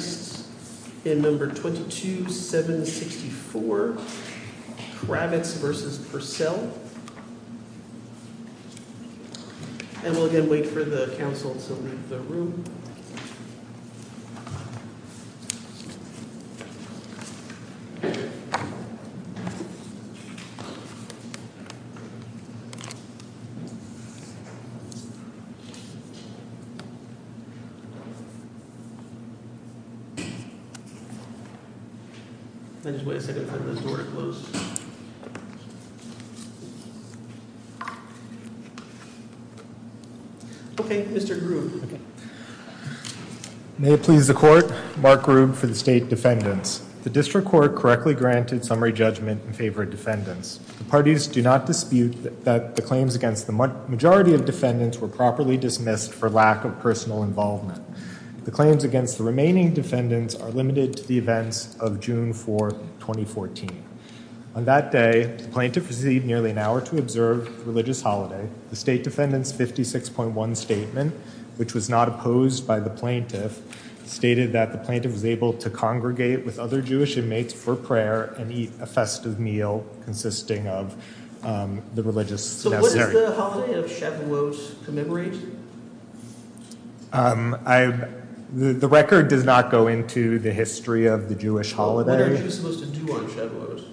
Kravitz v. Purcell May it please the Court, Mark Grubb for the State Defendants. The District Court correctly granted summary judgment in favor of defendants. The parties do not dispute that the claims against the majority of defendants were properly dismissed for lack of personal involvement. The claims against the remaining defendants are limited to the events of June 4, 2014. On that day, the plaintiff received nearly an hour to observe the religious holiday. The State Defendant's 56.1 statement, which was not opposed by the plaintiff, stated that the plaintiff was able to congregate with other Jewish inmates for prayer and eat a festive meal consisting of the religious necessary. Does the holiday of Shavuot commemorate? The record does not go into the history of the Jewish holiday. What are Jews supposed to do on Shavuot?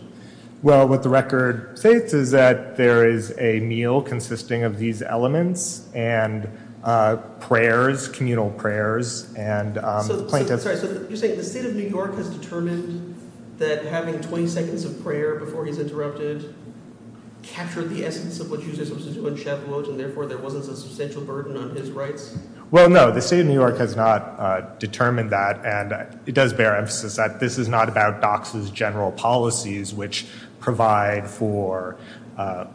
Well, what the record states is that there is a meal consisting of these elements and prayers, communal prayers. So you're saying the State of New York has determined that having 20 seconds of prayer before he's interrupted captured the essence of what Jews are supposed to do on Shavuot and therefore there wasn't some substantial burden on his rights? Well, no. The State of New York has not determined that. And it does bear emphasis that this is not about DOCS's general policies, which provide for an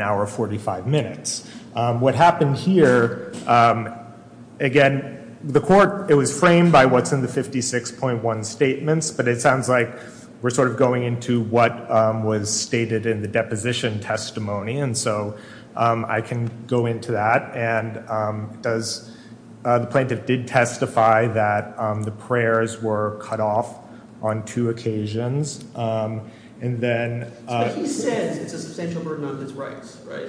hour 45 minutes. What happened here, again, the court, it was framed by what's in the 56.1 statements. But it sounds like we're sort of going into what was stated in the deposition testimony. And so I can go into that. And the plaintiff did testify that the prayers were cut off on two occasions. But he says it's a substantial burden on his rights, right?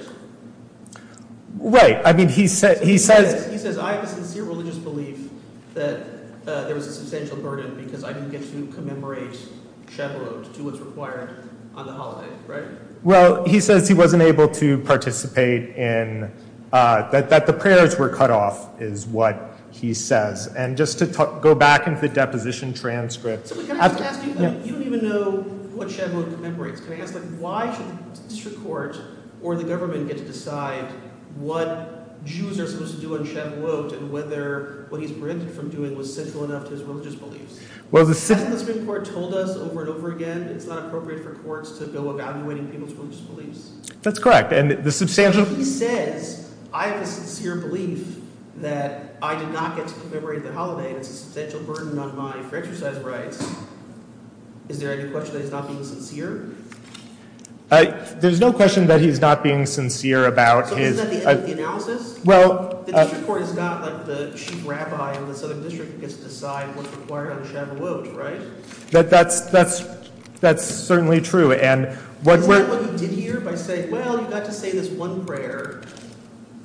Right. I mean, he says... He says, I have a sincere religious belief that there was a substantial burden because I didn't get to commemorate Shavuot to what's required on the holiday, right? Well, he says he wasn't able to participate in... that the prayers were cut off, is what he says. And just to go back into the deposition transcript... You don't even know what Shavuot commemorates. Can I ask, like, why should the district court or the government get to decide what Jews are supposed to do on Shavuot and whether what he's prevented from doing was central enough to his religious beliefs? Hasn't the Supreme Court told us over and over again it's not appropriate for courts to go evaluating people's religious beliefs? That's correct. And the substantial... Is there any question that he's not being sincere? There's no question that he's not being sincere about his... So isn't that the end of the analysis? Well... The district court is not like the chief rabbi of the southern district who gets to decide what's required on Shavuot, right? That's certainly true, and what... Isn't that what he did here by saying, well, you got to say this one prayer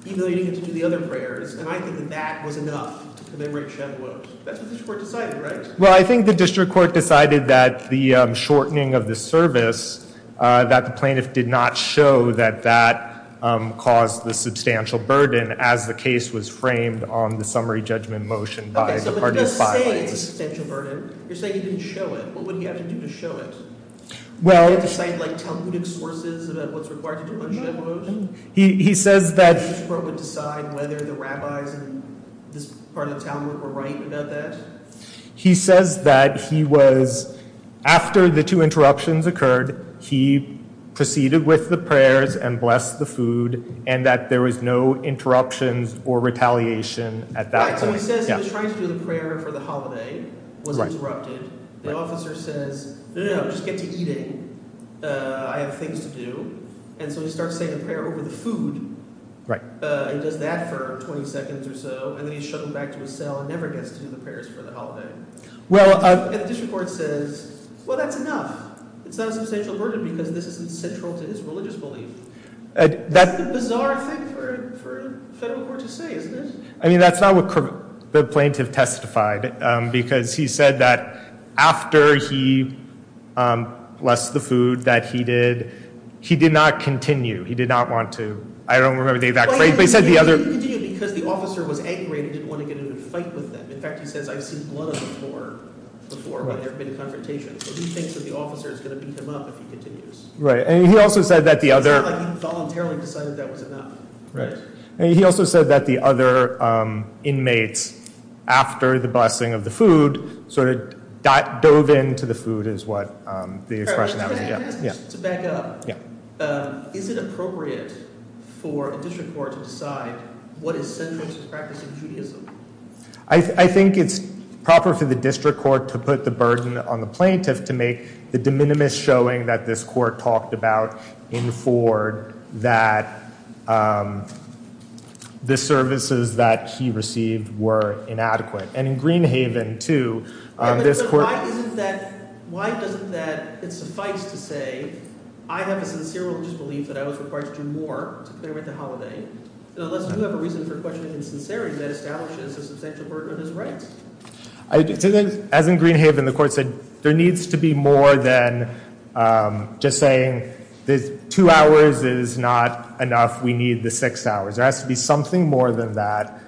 even though you didn't get to do the other prayers, and I think that that was enough to commemorate Shavuot? That's what the district court decided, right? Well, I think the district court decided that the shortening of the service, that the plaintiff did not show that that caused the substantial burden as the case was framed on the summary judgment motion by the parties' filings. Okay, so you're not saying it's a substantial burden. You're saying he didn't show it. What would he have to do to show it? Well... Decide, like, Talmudic sources about what's required to do on Shavuot? He says that... The district court would decide whether the rabbis in this part of town were right about that? He says that he was... After the two interruptions occurred, he proceeded with the prayers and blessed the food, and that there was no interruptions or retaliation at that point. Right, so he says he was trying to do the prayer for the holiday, was interrupted. The officer says, no, no, no, just get to eating. I have things to do. And so he starts saying a prayer over the food. Right. And does that for 20 seconds or so, and then he's shuttled back to his cell and never gets to do the prayers for the holiday. And the district court says, well, that's enough. It's not a substantial burden because this isn't central to his religious belief. That's the bizarre thing for a federal court to say, isn't it? I mean, that's not what the plaintiff testified, because he said that after he blessed the food that he did, he did not continue. He did not want to. I don't remember. He continued because the officer was angry and didn't want to get into a fight with him. In fact, he says, I've seen blood before when there have been confrontations. So he thinks that the officer is going to beat him up if he continues. Right. And he also said that the other... It's not like he voluntarily decided that was enough. Right. And he also said that the other inmates, after the blessing of the food, sort of dove into the food is what the expression was. To back up, is it appropriate for a district court to decide what is central to practicing Judaism? I think it's proper for the district court to put the burden on the plaintiff to make the de minimis showing that this court talked about in Ford that the services that he received were inadequate. Why doesn't that suffice to say, I have a sincere religious belief that I was required to do more to pay with the holiday, unless you have a reason for questioning his sincerity that establishes a substantial burden on his rights? As in Greenhaven, the court said there needs to be more than just saying this two hours is not enough. We need the six hours. There has to be something more than that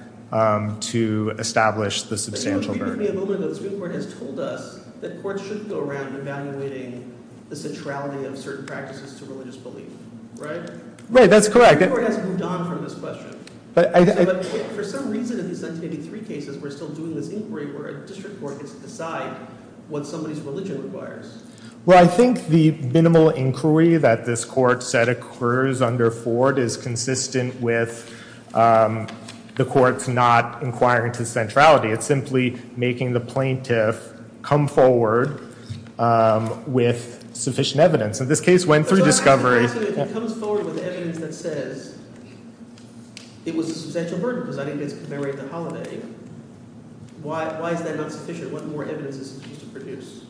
to establish the substantial burden. The Supreme Court has told us that courts should go around evaluating the centrality of certain practices to religious belief, right? Right. That's correct. The Supreme Court has moved on from this question. For some reason, in the 183 cases, we're still doing this inquiry where a district court gets to decide what somebody's religion requires. Well, I think the minimal inquiry that this court said occurs under Ford is consistent with the courts not inquiring to centrality. It's simply making the plaintiff come forward with sufficient evidence. And this case went through discovery. It comes forward with evidence that says it was a substantial burden because I didn't get to commemorate the holiday. Why is that not sufficient? What more evidence is it used to produce?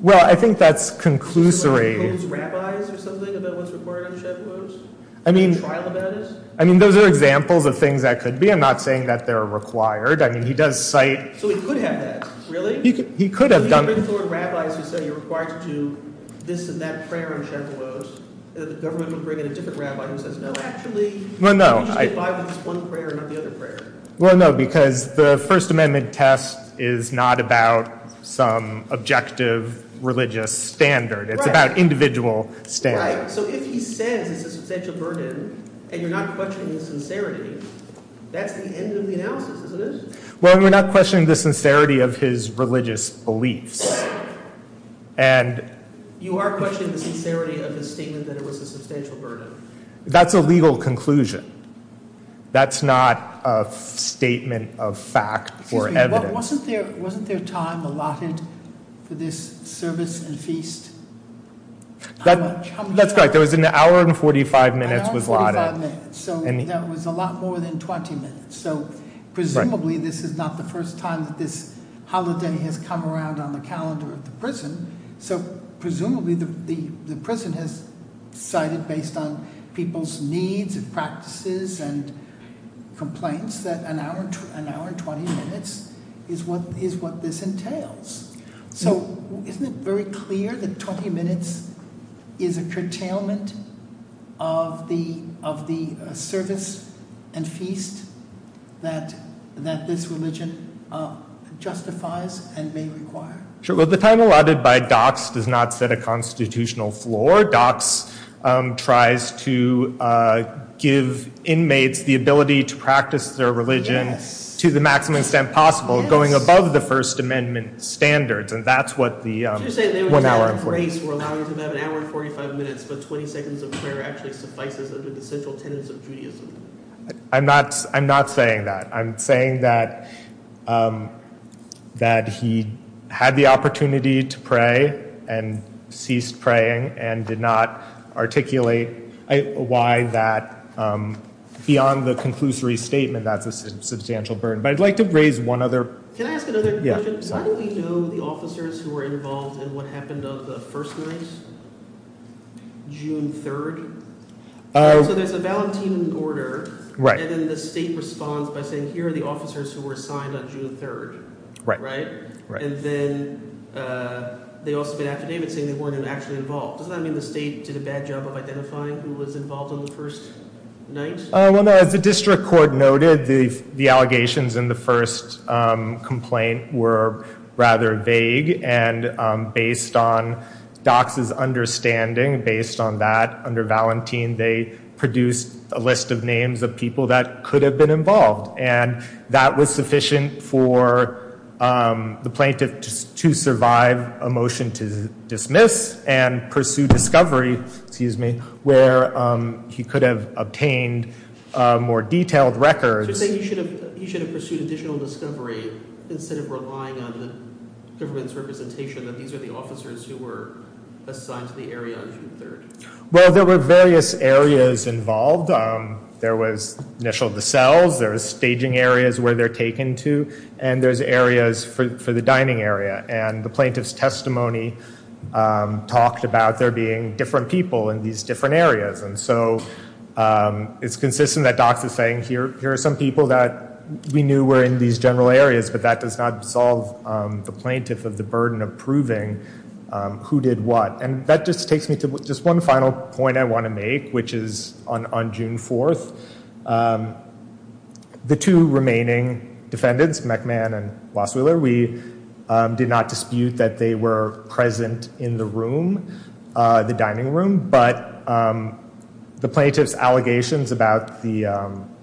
Well, I think that's conclusory. Does the court hold rabbis or something about what's required on the Shabbat meals? I mean, those are examples of things that could be. I'm not saying that they're required. I mean, he does cite— So he could have that, really? He could have done— The government would bring in a different rabbi who says, no, actually— Well, no. Well, no, because the First Amendment test is not about some objective religious standard. It's about individual standards. Right. So if he says it's a substantial burden and you're not questioning the sincerity, that's the end of the analysis, isn't it? Well, we're not questioning the sincerity of his religious beliefs. And— You are questioning the sincerity of his statement that it was a substantial burden. That's a legal conclusion. That's not a statement of fact or evidence. Excuse me. Wasn't there time allotted for this service and feast? That's right. There was an hour and 45 minutes was allotted. An hour and 45 minutes. So that was a lot more than 20 minutes. So presumably this is not the first time that this holiday has come around on the calendar of the prison. So presumably the prison has cited, based on people's needs and practices and complaints, that an hour and 20 minutes is what this entails. So isn't it very clear that 20 minutes is a curtailment of the service and feast that this religion justifies and may require? Sure. Well, the time allotted by DOCS does not set a constitutional floor. DOCS tries to give inmates the ability to practice their religion to the maximum extent possible, going above the First Amendment standards, and that's what the— So you're saying they were given grace for allowing them to have an hour and 45 minutes, but 20 seconds of prayer actually suffices under the central tenets of Judaism? I'm not saying that. I'm saying that he had the opportunity to pray and ceased praying and did not articulate why that, beyond the conclusory statement, that's a substantial burden. But I'd like to raise one other— Can I ask another question? Yeah. How do we know the officers who were involved in what happened on the first night, June 3rd? So there's a valentine order, and then the state responds by saying, here are the officers who were assigned on June 3rd, right? Right. And then they also bid affidavit saying they weren't actually involved. Doesn't that mean the state did a bad job of identifying who was involved on the first night? Well, as the district court noted, the allegations in the first complaint were rather vague, and based on DOCS's understanding, based on that, under valentine, they produced a list of names of people that could have been involved. And that was sufficient for the plaintiff to survive a motion to dismiss and pursue discovery, where he could have obtained more detailed records. So you're saying he should have pursued additional discovery instead of relying on the government's representation that these are the officers who were assigned to the area on June 3rd? Well, there were various areas involved. There was initial of the cells, there was staging areas where they're taken to, and there's areas for the dining area. And the plaintiff's testimony talked about there being different people in these different areas. And so it's consistent that DOCS is saying here are some people that we knew were in these general areas, but that does not solve the plaintiff of the burden of proving who did what. And that just takes me to just one final point I want to make, which is on June 4th, the two remaining defendants, McMahon and Wassweiler, we did not dispute that they were present in the room, the dining room, but the plaintiff's allegations about the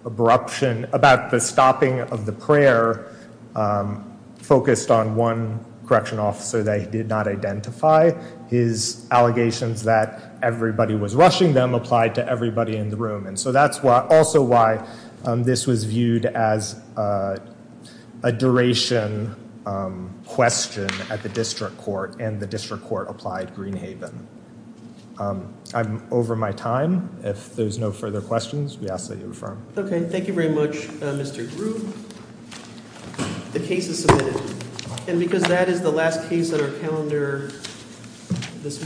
abruption, about the stopping of the prayer, focused on one correctional officer that he did not identify. His allegations that everybody was rushing them applied to everybody in the room. And so that's also why this was viewed as a duration question at the district court, and the district court applied Greenhaven. I'm over my time. If there's no further questions, we ask that you refer them. Okay. Thank you very much, Mr. Grew. The case is submitted. And because that is the last case on our calendar this morning, we are adjourned.